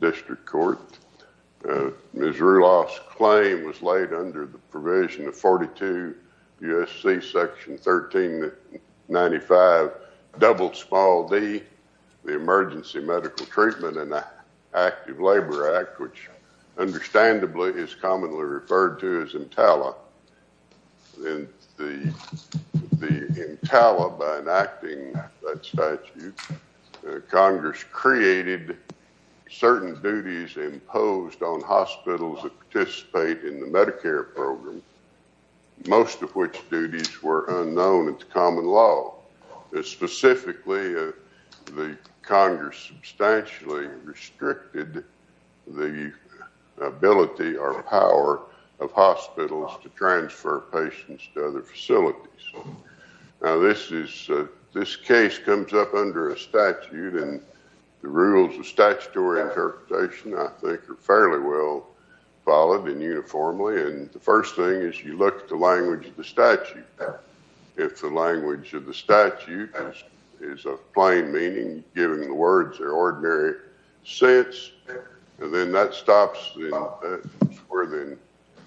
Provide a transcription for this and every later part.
District Court. Ms. Ruloph's claim was laid under the provision of 42 U.S.C. section 1395 double small d, the Emergency Medical Treatment and Active Labor Act, which understandably is commonly referred to as EMTALA. In the EMTALA, by enacting that statute, Congress created certain duties imposed on hospitals that participate in the Medicare program, most of which duties were unknown to common law. Specifically, the Congress substantially restricted the ability or power of hospitals to transfer patients to other facilities. Now, this is, this case comes up under a statute, and the rules of statutory interpretation, I think, are fairly well followed and uniformly, and the first thing is you look at the language of the statute. If the language of the statute is of plain meaning, giving the words their ordinary sense, and then that stops where then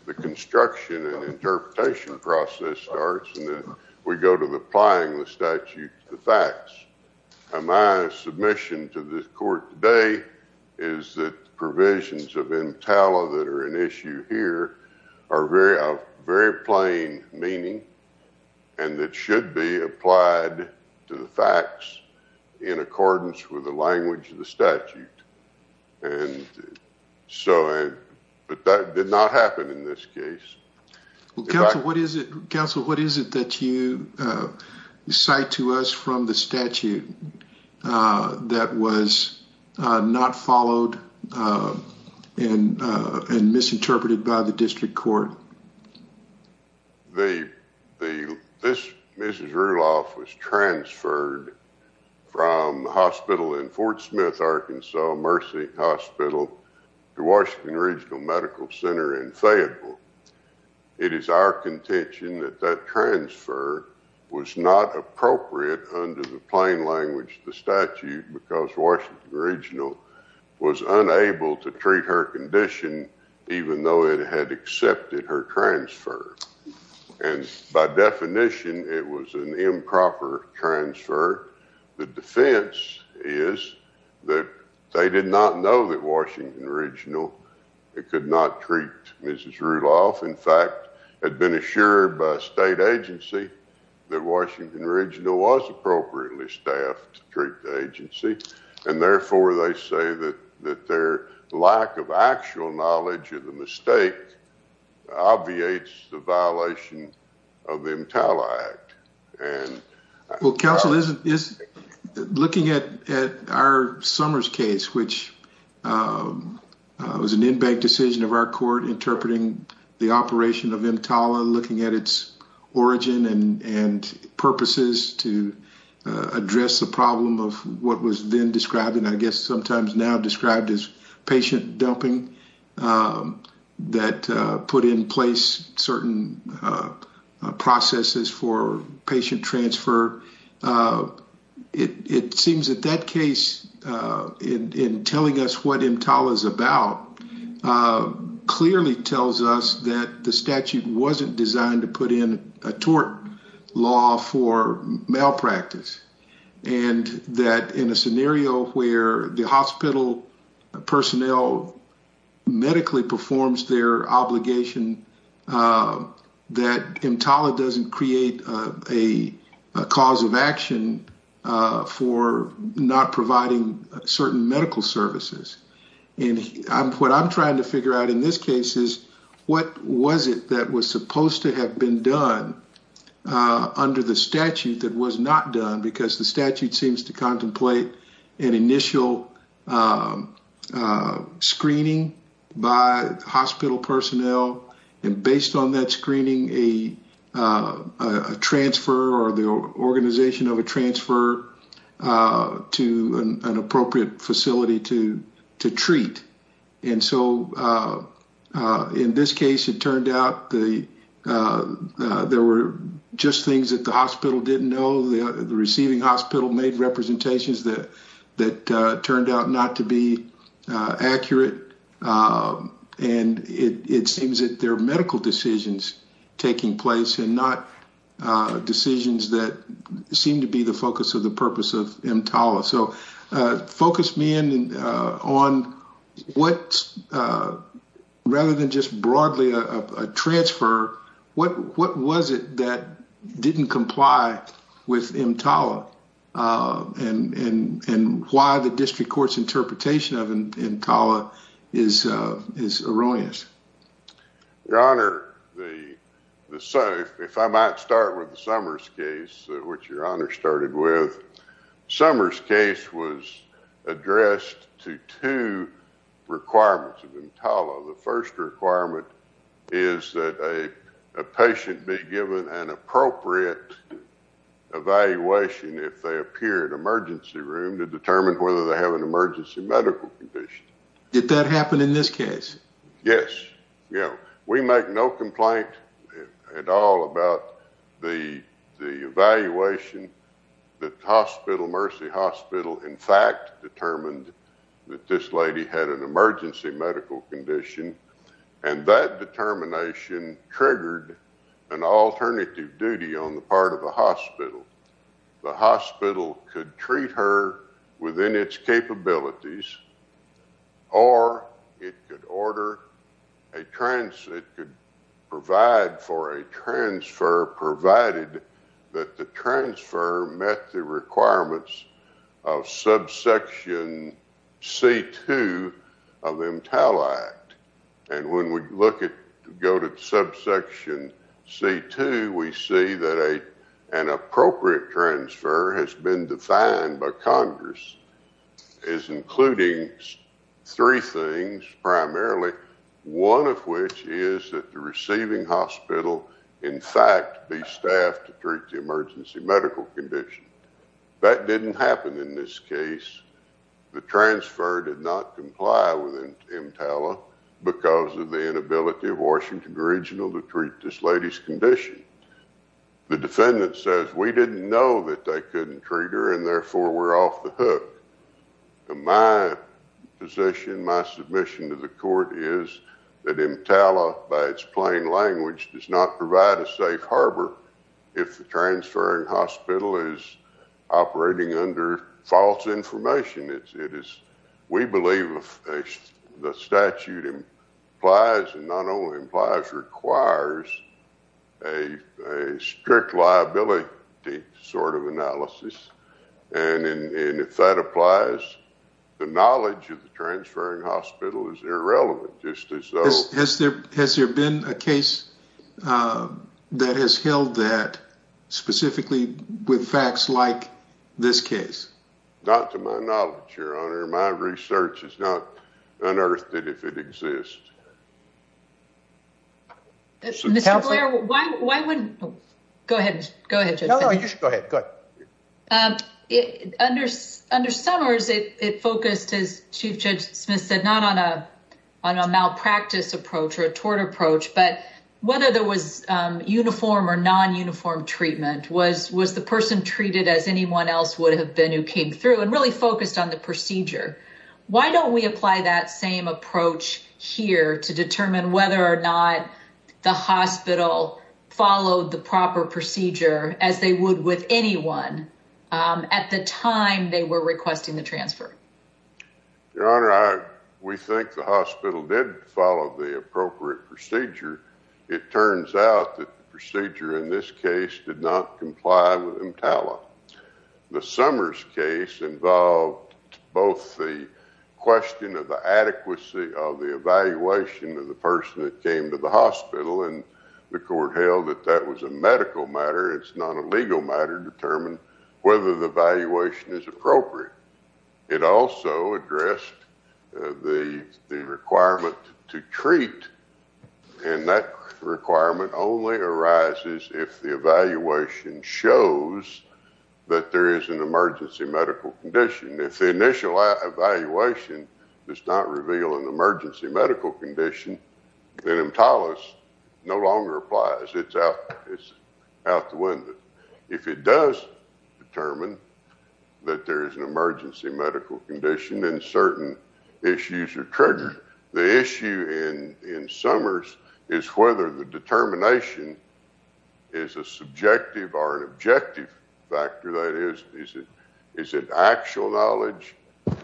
the construction and interpretation process starts, and then we go to the applying the statute to the facts. My submission to the court today is that provisions of EMTALA that are an issue here are very, of very plain meaning, and that should be applied to the facts in accordance with the language of the statute, and so, but that did not happen in this case. Well, Council, what is it, Council, what is it that you cite to us from the statute that was not followed and misinterpreted by the district court? The, the, this Mrs. Rudolph was transferred from the hospital in Fort Smith, Arkansas, Mercy Hospital, to Washington Regional Medical Center in Fayetteville. It is our contention that that transfer was not appropriate under the plain language of the statute because Washington Regional was unable to treat her condition even though it had accepted her transfer, and by definition, it was an improper transfer. The defense is that they did not know that Washington Regional could not treat Mrs. Rudolph, in fact, had been assured by state agency that Washington Regional was appropriately staffed to treat the agency, and therefore, they say that their lack of actual knowledge of the mistake obviates the violation of the EMTALA Act. Well, Council, looking at our Summers case, which was an in-bank decision of our court interpreting the operation of EMTALA, looking at its origin and, and purposes to address the problem of what was then described, and I guess sometimes now described as patient dumping, that put in place certain processes for patient transfer. It, it seems that that case in, in telling us what EMTALA is about clearly tells us that the statute wasn't designed to put in a tort law for malpractice, and that in a scenario where the hospital personnel medically performs their obligation, that EMTALA doesn't create a cause of action for not providing certain medical services, and I'm, what I'm trying to figure out in this case is, what was it that was supposed to have been done under the statute that was not done, because the statute seems to contemplate an initial screening by hospital personnel, and based on that screening, a, a transfer or the organization of a to treat, and so in this case, it turned out the, there were just things that the hospital didn't know. The receiving hospital made representations that, that turned out not to be accurate, and it, it seems that there are medical decisions taking place and not decisions that seem to be the focus of the purpose of EMTALA. So, focus me in on what, rather than just broadly a transfer, what, what was it that didn't comply with EMTALA, and, and, and why the district court's interpretation of EMTALA is, is erroneous. Your Honor, the, the, so if I might start with your Honor started with, Summers' case was addressed to two requirements of EMTALA. The first requirement is that a, a patient be given an appropriate evaluation if they appear in emergency room to determine whether they have an emergency medical condition. Did that happen in this case? Yes. You know, we make no complaint at all about the, the evaluation that hospital, Mercy Hospital, in fact, determined that this lady had an emergency medical condition, and that determination triggered an alternative duty on the part of the hospital. The hospital could treat her within its capabilities, or it could order a trans, it could provide for a transfer provided that the transfer met the requirements of subsection C2 of EMTALA Act, and when we look at, go to subsection C2, we see that a, an appropriate transfer has been defined by Congress as including three things, primarily, one of which is that the receiving hospital, in fact, be staffed to treat the emergency medical condition. That didn't happen in this case. The transfer did not comply with EMTALA because of the inability of Washington Regional to treat this lady's condition. The defendant says, we didn't know that they couldn't treat her, and therefore, we're off the hook. My position, my submission to the court is that EMTALA, by its plain language, does not provide a safe harbor if the transferring hospital is false information. It is, we believe the statute implies, and not only implies, requires a strict liability sort of analysis, and if that applies, the knowledge of the transferring hospital is irrelevant, just as though... Has there been a case that has held that with facts like this case? Not to my knowledge, Your Honor. My research is not unearthed if it exists. Mr. Blair, why wouldn't... Go ahead, go ahead. No, no, you should go ahead. Go ahead. Under Summers, it focused, as Chief Judge Smith said, not on a malpractice approach or a tort approach, but whether there was uniform or non-uniform treatment, was the person treated as anyone else would have been who came through and really focused on the procedure? Why don't we apply that same approach here to determine whether or not the hospital followed the proper procedure as they would with anyone at the time they were requesting the transfer? Your Honor, we think the hospital did follow the appropriate procedure. It turns out that the procedure in this case did not comply with EMTALA. The Summers case involved both the question of the adequacy of the evaluation of the person that came to the hospital, and the court held that that was a medical matter, it's not a legal matter to determine whether the evaluation is appropriate. It also addressed the requirement to treat, and that requirement only arises if the evaluation shows that there is an emergency medical condition. If the initial evaluation does not reveal an emergency medical condition, then EMTALA no longer applies. It's out the window. If it does determine that there is an emergency medical condition and certain issues are triggered, the issue in Summers is whether the determination is a subjective or an objective factor. That is, is it actual knowledge,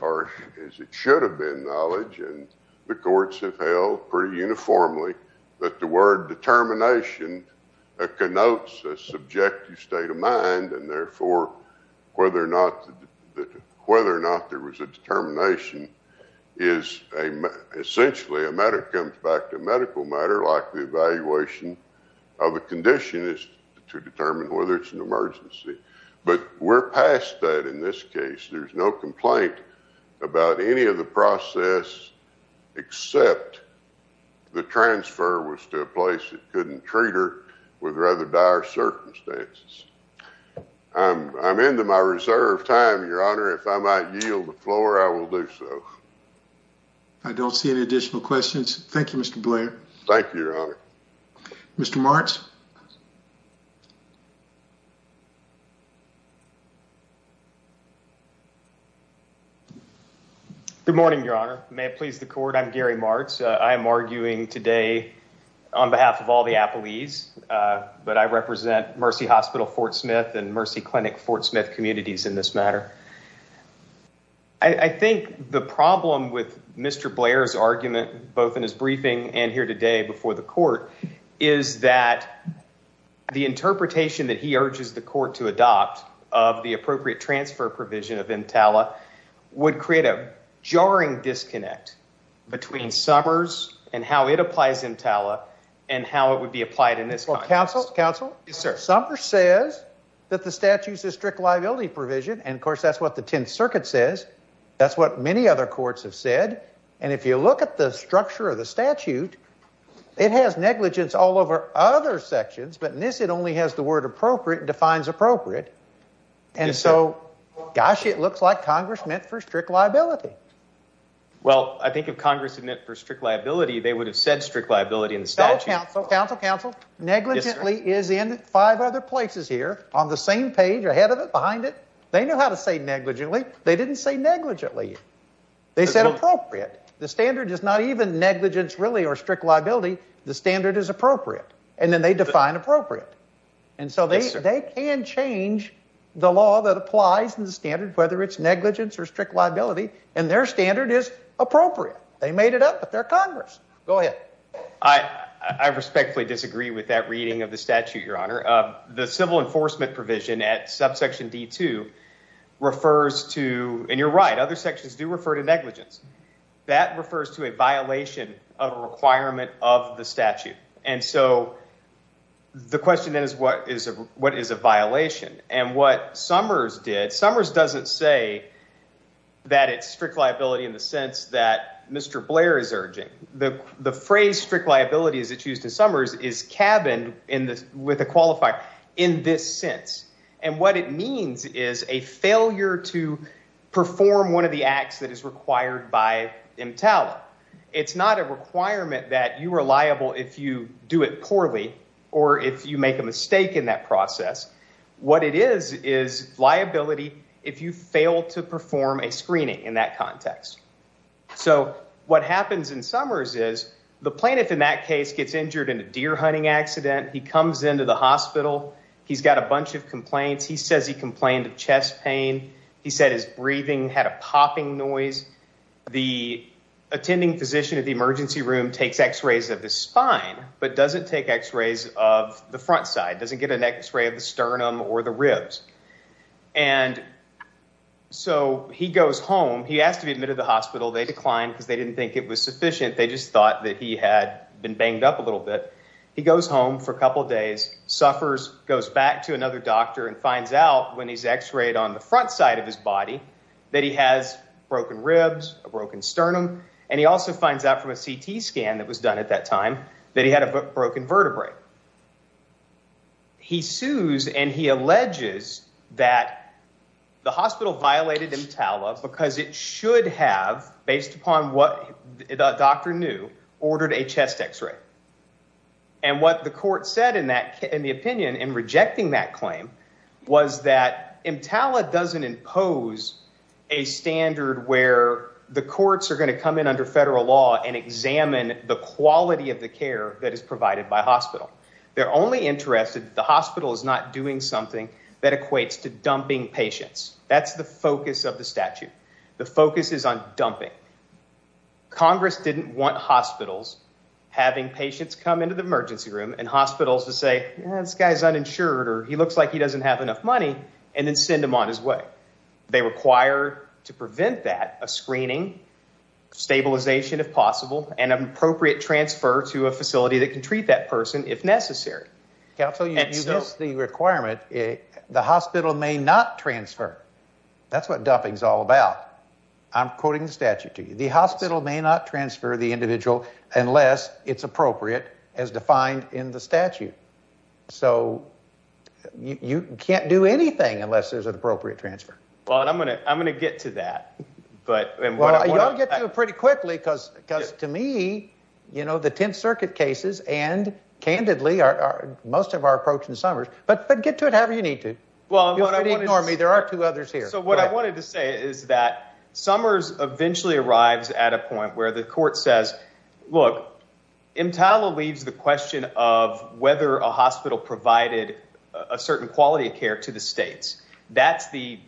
or is it should have been knowledge, and the courts have held pretty uniformly that the word determination connotes a subjective state of mind, and therefore, whether or not there was a determination is essentially a matter that comes back to medical matter, like the evaluation of a condition is to determine whether it's an emergency. But we're past that in this case. There's no complaint about any of the process, except the transfer was to a place that couldn't treat her with rather dire circumstances. I'm into my reserve time, your honor. If I might yield the floor, I will do so. I don't see any additional questions. Thank you, Mr. Blair. Thank you, your honor. Mr. Martz. Good morning, your honor. May it please the court. I'm Gary Martz. I am arguing today on behalf of all the Appalese, but I represent Mercy Hospital, Fort Smith and Mercy Clinic, Fort Smith communities in this matter. I think the problem with Mr. Blair's argument, both in his briefing and here today before the court, is that he's trying to make it clear that there is a medical condition the interpretation that he urges the court to adopt of the appropriate transfer provision of Intala would create a jarring disconnect between Summers and how it applies Intala and how it would be applied in this. Well, counsel, counsel. Yes, sir. Summers says that the statute is a strict liability provision. And of course, that's what the Tenth Circuit says. That's what many other courts have said. And if you look at the structure of the statute, it has negligence all over other sections. But in this, it only has the word appropriate, defines appropriate. And so, gosh, it looks like Congress meant for strict liability. Well, I think if Congress had meant for strict liability, they would have said strict liability in the statute. Counsel, counsel, negligently is in five other places here on the same page, ahead of it, behind it. They know how to say negligently. They didn't say negligently. They said appropriate. The standard is not even negligence, really, or strict liability. The standard is appropriate. And then they define appropriate. And so, they can change the law that applies in the standard, whether it's negligence or strict liability. And their standard is appropriate. They made it up with their Congress. Go ahead. I respectfully disagree with that reading of the statute, your honor. The civil enforcement provision at subsection D2 refers to, and you're right, other sections do refer to negligence. That refers to a violation of a requirement of the statute. And so, the question is, what is a violation? And what Summers did, Summers doesn't say that it's strict liability in the sense that Mr. Blair is urging. The phrase strict liability, as it's used in Summers, is cabined with a qualifier, in this sense. And what it means is a failure to perform one of the acts that is required by MTALA. It's not a requirement that you are liable if you do it poorly or if you make a mistake in that process. What it is is liability if you fail to perform a screening in that context. So, what happens in Summers is the plaintiff in that case gets injured in a deer hunting accident. He comes into the hospital. He's got a bunch of complaints. He says he complained of chest pain. He said his breathing had a popping noise. The attending physician at the emergency room takes x-rays of his spine, but doesn't take x-rays of the front side, doesn't get an x-ray of the sternum or the ribs. And so, he goes home. He has to be admitted to the hospital. They declined because they didn't think it was sufficient. They just thought that he had been banged up a little bit. He goes home for a couple days, suffers, goes back to another doctor, and finds out when he's x-rayed on the broken ribs, a broken sternum, and he also finds out from a CT scan that was done at that time that he had a broken vertebrae. He sues and he alleges that the hospital violated EMTALA because it should have, based upon what the doctor knew, ordered a chest x-ray. And what the court said in the opinion in rejecting that claim was that EMTALA doesn't impose a standard where the courts are going to come in under federal law and examine the quality of the care that is provided by hospital. They're only interested that the hospital is not doing something that equates to dumping patients. That's the focus of the statute. The focus is on dumping. Congress didn't want hospitals having patients come into the emergency room and hospitals to say, this guy's uninsured, or he looks like he doesn't have enough money, and then send him on his way. They require to prevent that a screening, stabilization if possible, and an appropriate transfer to a facility that can treat that person if necessary. Counsel, you missed the requirement. The hospital may not transfer. That's what dumping is all about. I'm quoting the statute to you. The hospital may not transfer the individual unless it's appropriate as defined in the statute. So you can't do anything unless there's an appropriate transfer. Well, I'm going to get to that. But you'll get to it pretty quickly because to me, you know, the Tenth Circuit cases and candidly are most of our approach in Summers. But get to it however you need to. Well, there are two others here. So what I wanted to say is that eventually arrives at a point where the court says, look, EMTALA leaves the question of whether a hospital provided a certain quality of care to the states. That's the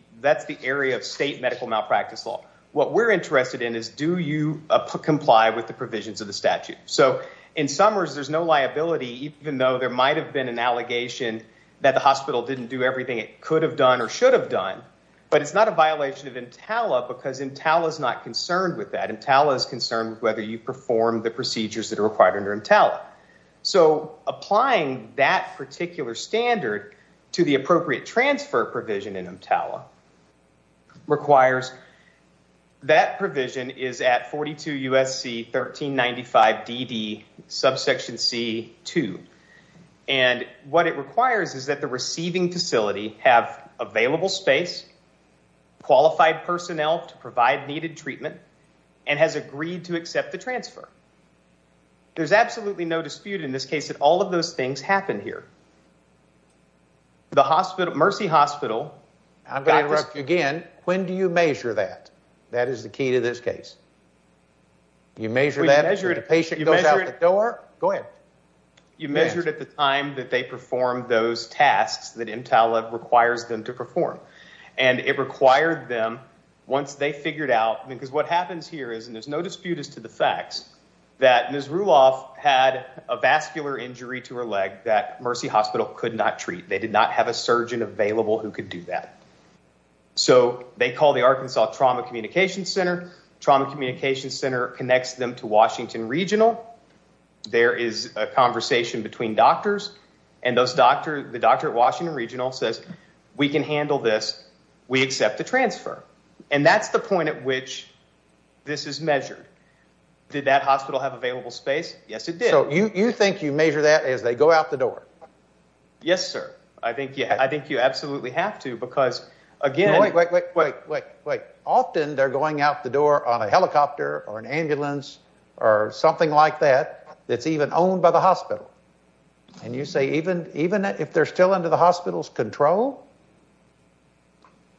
area of state medical malpractice law. What we're interested in is do you comply with the provisions of the statute? So in Summers, there's no liability, even though there might have been an allegation that the hospital didn't do everything it could have done or should have done. But it's not a violation of EMTALA because EMTALA is not concerned with that. EMTALA is concerned with whether you perform the procedures that are required under EMTALA. So applying that particular standard to the appropriate transfer provision in EMTALA requires that provision is at 42 U.S.C. 1395 D.D. subsection C-2. And what it requires is the receiving facility have available space, qualified personnel to provide needed treatment, and has agreed to accept the transfer. There's absolutely no dispute in this case that all of those things happened here. The Mercy Hospital... I'm going to interrupt you again. When do you measure that? That is the key to this case. You measure that when a patient goes out the door? Go ahead. You measured at the time that they performed those tasks that EMTALA requires them to perform. And it required them, once they figured out, because what happens here is, and there's no dispute as to the facts, that Ms. Ruloff had a vascular injury to her leg that Mercy Hospital could not treat. They did not have a surgeon available who could do that. So they call the Arkansas Trauma Communication Center. Trauma Communication Center connects them to Washington Regional. There is a conversation between doctors, and the doctor at Washington Regional says, we can handle this. We accept the transfer. And that's the point at which this is measured. Did that hospital have available space? Yes, it did. So you think you measure that as they go out the door? Yes, sir. I think you absolutely have to, because again... Wait, wait, wait, wait. Often they're going out the door on a helicopter, or an ambulance, or something like that, that's even owned by the hospital. And you say even if they're still under the hospital's control?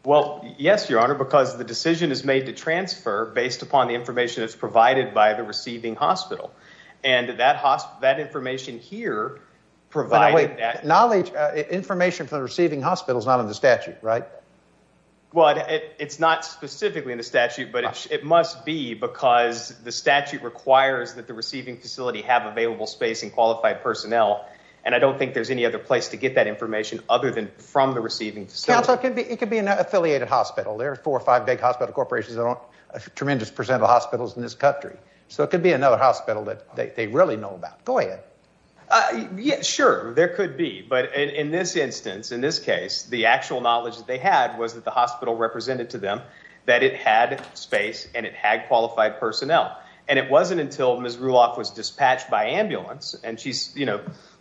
Well, yes, your honor, because the decision is made to transfer based upon the information that's provided by the receiving hospital. And that information here provided that... Knowledge, information from the receiving hospital is not in the statute, right? Well, it's not specifically in the statute, but it must be because the statute requires that the receiving facility have available space and qualified personnel. And I don't think there's any other place to get that information other than from the receiving facility. Counsel, it could be an affiliated hospital. There are four or five big hospital corporations that own a tremendous percent of the hospitals in this country. So it could be another hospital that they really know about. Go ahead. Yeah, sure, there could be. But in this instance, in this case, the actual knowledge that they had was that the hospital represented to them that it had space and it had qualified personnel. And it wasn't until Ms. Ruloff was dispatched by ambulance, and she's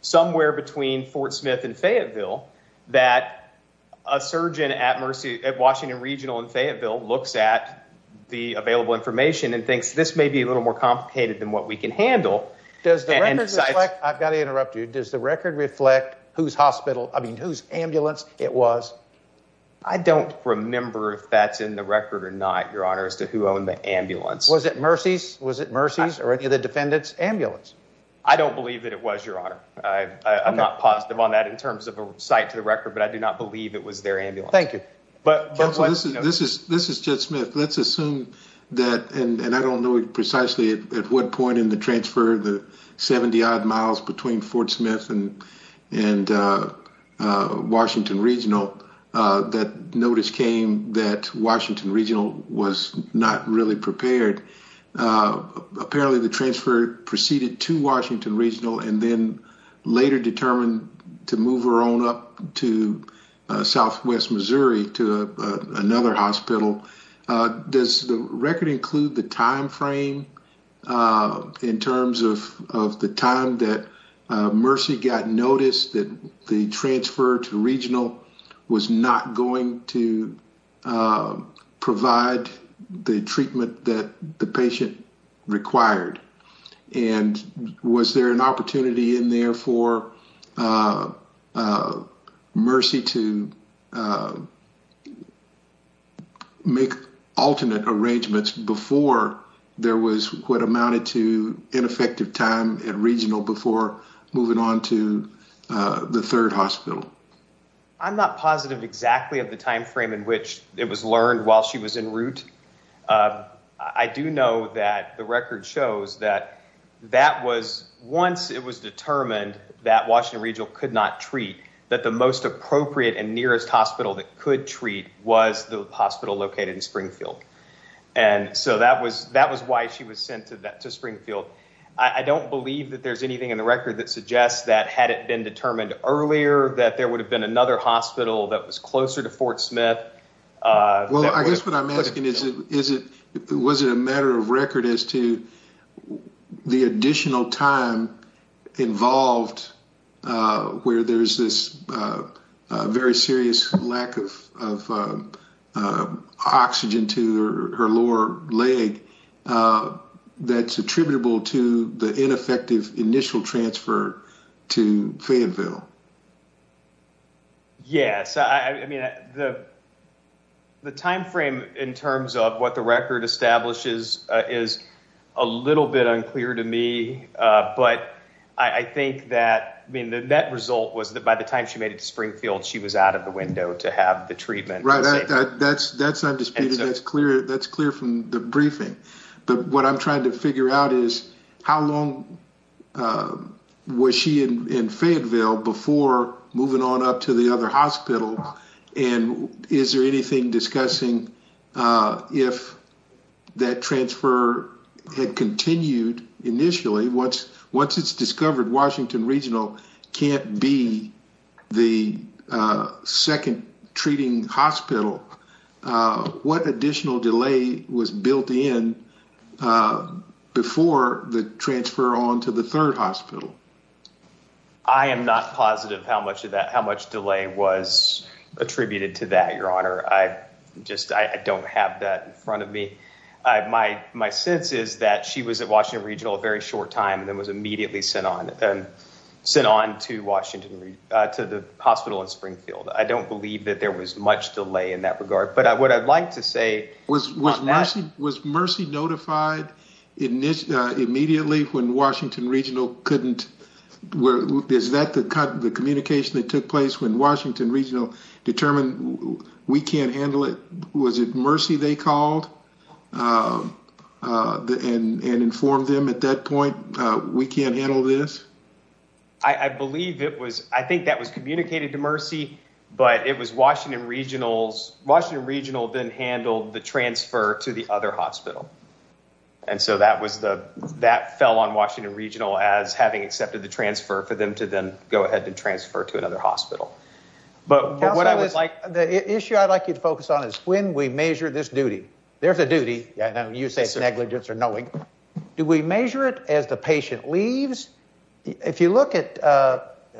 somewhere between Fort Smith and Fayetteville, that a surgeon at Washington Regional in Fayetteville looks at the available information and thinks this may be a little more complicated than what we can handle. Does the record reflect... I've got to interrupt you. Does the record reflect whose hospital, I mean, whose ambulance it was? I don't remember if that's in the record or not, Your Honor, as to who owned the ambulance. Was it Mercy's? Was it Mercy's or any of the defendant's ambulance? I don't believe that it was, Your Honor. I'm not positive on that in terms of a cite to the record, but I do not believe it was their ambulance. Thank you. But this is Jed Smith. Let's assume that, and I don't know precisely at what point in the transfer the 70-odd miles between Fort Smith and Washington Regional, that notice came that Washington Regional was not really prepared. Apparently the transfer proceeded to Washington Regional and then later determined to move her on up to southwest Missouri to another hospital. Does the record include the time frame in terms of the time that Mercy got noticed that the transfer to Regional was not going to provide the treatment that the patient required? And was there an opportunity in there for Mercy to make alternate arrangements before there was what amounted to ineffective time at Regional before moving on to the third hospital? I'm not positive exactly of the time frame in which it was learned while she was en route. I do know that the record shows that that was once it was determined that Washington Regional could not treat, that the most appropriate and nearest hospital that could treat was the hospital located in Springfield. And so that was why she was sent to that to Springfield. I don't believe that there's anything in the record that suggests that had it been determined earlier that there is. Was it a matter of record as to the additional time involved where there's this very serious lack of oxygen to her lower leg that's attributable to the ineffective initial transfer to Fayetteville? Yes. I mean, the time frame in terms of what the record establishes is a little bit unclear to me. But I think that, I mean, the net result was that by the time she made it to Springfield, she was out of the window to have the treatment. Right. That's undisputed. That's clear from the briefing. But what I'm trying to figure out is how long was she in Fayetteville before moving on up to the other hospital? And is there anything discussing if that transfer had continued initially? Once it's discovered Washington Regional can't be the second treating hospital, what additional delay was built in before the transfer on to the third hospital? I am not positive how much delay was attributed to that, your honor. I just, I don't have that in front of me. My sense is that she was at Washington Regional a very short time and then was immediately sent on to the hospital in Springfield. I don't believe that there was much delay in that regard. But what I'd like to say Was Mercy notified immediately when Washington Regional couldn't, is that the communication that took place when Washington Regional determined we can't handle it? Was it Mercy they called and informed them at that point, we can't handle this? I believe it was, I think that was communicated to Mercy, but it was Washington Regional. Washington Regional then handled the transfer to the other hospital. And so that was the, that fell on Washington Regional as having accepted the transfer for them to then go ahead and transfer to another hospital. But what I would like, the issue I'd like you to focus on is when we measure this duty. There's a duty, I know you say negligence or knowing. Do we measure it as the patient leaves? If you look at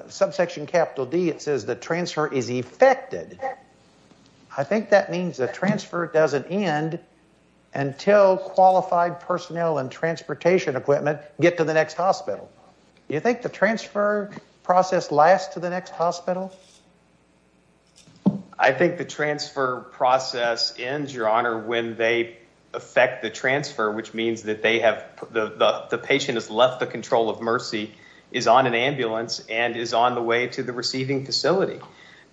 subsection capital D it says the I think that means the transfer doesn't end until qualified personnel and transportation equipment get to the next hospital. Do you think the transfer process lasts to the next hospital? I think the transfer process ends, your honor, when they affect the transfer, which means that the patient has left the control of Mercy, is on an ambulance, and is on the way to the receiving facility.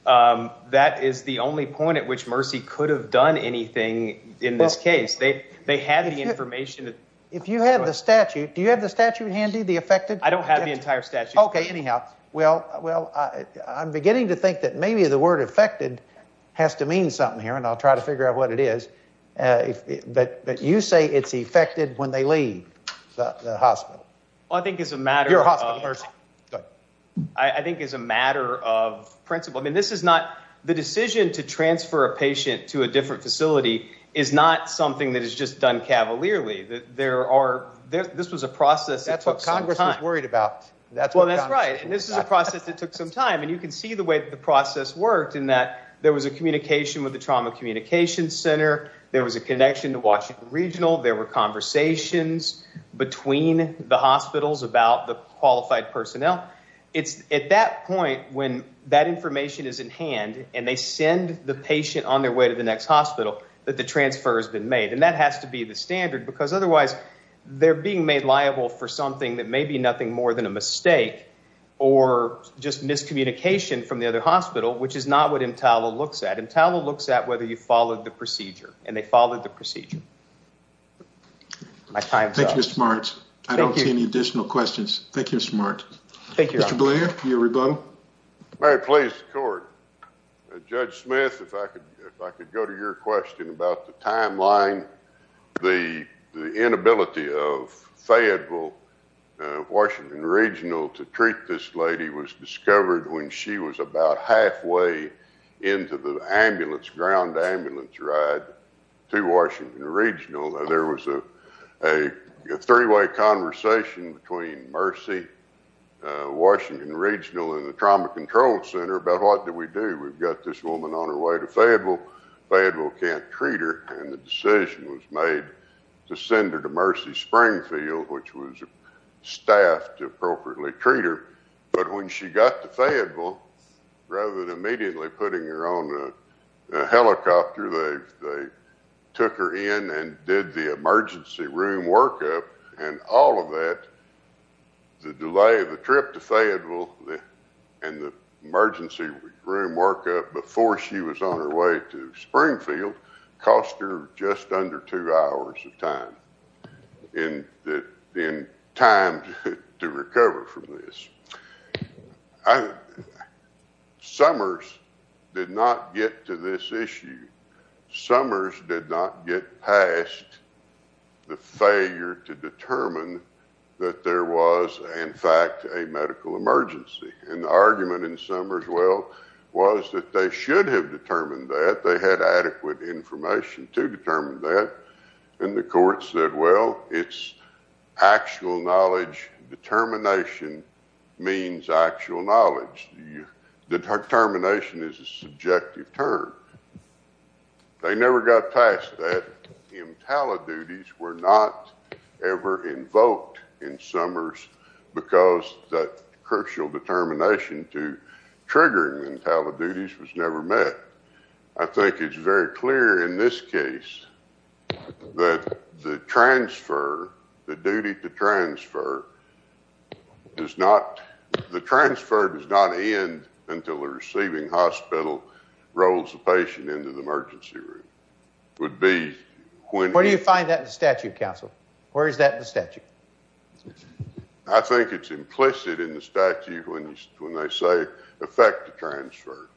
That is the only point at which Mercy could have done anything in this case. They had the information. If you have the statute, do you have the statute handy, the affected? I don't have the entire statute. Okay, anyhow, well, I'm beginning to think that maybe the word affected has to mean something here, and I'll try to figure out what it is. But you say it's affected when they leave the hospital. Well, I think it's a matter of principle. I mean, this is not the decision to transfer a patient to a different facility is not something that is just done cavalierly. This was a process. That's what Congress was worried about. Well, that's right. This is a process that took some time, and you can see the way that the process worked in that there was a communication with the Trauma Communication Center. There was a connection to Washington Regional. There were conversations between the hospitals about the qualified personnel. It's at that point when that information is in hand, and they send the patient on their way to the next hospital that the transfer has been made. And that has to be the standard, because otherwise they're being made liable for something that may be nothing more than a mistake or just miscommunication from the other hospital, which is not what MTALA looks at. MTALA looks at whether you followed the procedure, and they followed the procedure. My time's up. Thank you, Mr. Martz. I don't see any additional questions. Thank you, Mr. Martz. Thank you. Mr. Blair, your rebuttal. Mary, please, the court. Judge Smith, if I could go to your question about the timeline, the inability of Fayetteville, Washington Regional to treat this lady was discovered when she was about halfway into the ambulance, ground ambulance ride to Washington Regional. There was a three-way conversation between Mercy, Washington Regional, and the Trauma Control Center about what do we do? We've got this woman on her way to Fayetteville. Fayetteville can't treat her, and the decision was made to send her to Mercy Springfield, which was staffed to appropriately treat her. But when she got to Fayetteville, rather than immediately putting her on a helicopter, they took her in and did the emergency room workup, and all of that, the delay of the trip to Fayetteville and the emergency room workup before she was on her way to Springfield cost her just under two hours of time in time to recover from this. Summers did not get to this issue. Summers did not get past the failure to determine that there was, in fact, a medical emergency, and the argument in Summers, well, was that they should have determined that. They had adequate information to determine that, and the court said, well, it's actual knowledge. Determination means actual knowledge. Determination is a subjective term. They never got past that. Entaliduties were not ever invoked in Summers because that crucial determination to determine that there was a medical emergency was not ever invoked in Summers, and they never got past that. I think it's implicit in the statute when they say effect the transfer.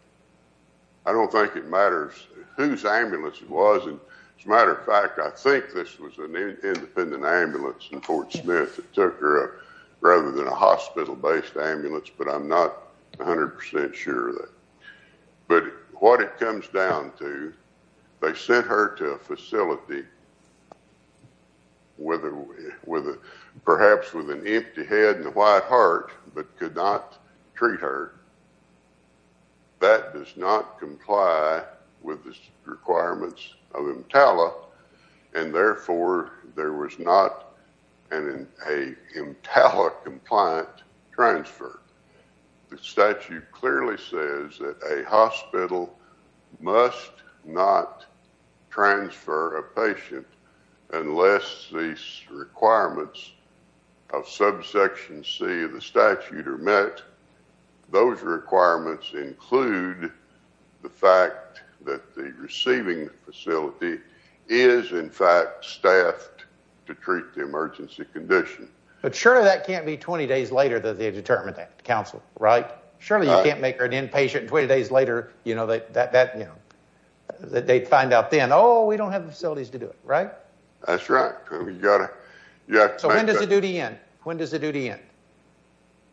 I don't think it matters whose ambulance it was. As a matter of fact, I think this was an independent ambulance in Fort Smith that took her up rather than a hospital-based ambulance, but I'm not 100 percent sure of that. But what it comes down to, they sent her to a facility, perhaps with an empty head and with the requirements of EMTALA, and therefore, there was not an EMTALA-compliant transfer. The statute clearly says that a hospital must not transfer a patient unless these requirements of subsection C of the statute are met. Those requirements include the fact that the receiving facility is, in fact, staffed to treat the emergency condition. But surely that can't be 20 days later that they determine that, counsel, right? Surely you can't make her an inpatient, and 20 days later, they find out then, oh, we don't have the facilities to do it, right? That's right. So when does the duty end? When does the duty end?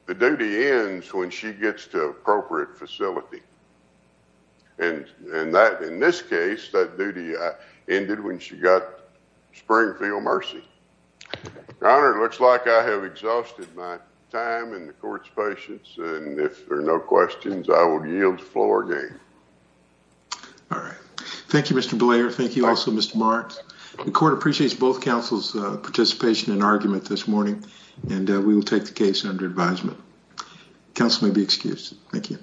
The duty ends when she gets to an appropriate facility, and in this case, that duty ended when she got Springfield Mercy. Your Honor, it looks like I have exhausted my time and the Court's patience, and if there are no questions, I will yield the floor again. All right. Thank you, Mr. Blair. Thank you also, Mr. Marks. The Court appreciates both counsel's participation and argument this morning, and we will take the case under advisement. Counsel may be excused. Thank you.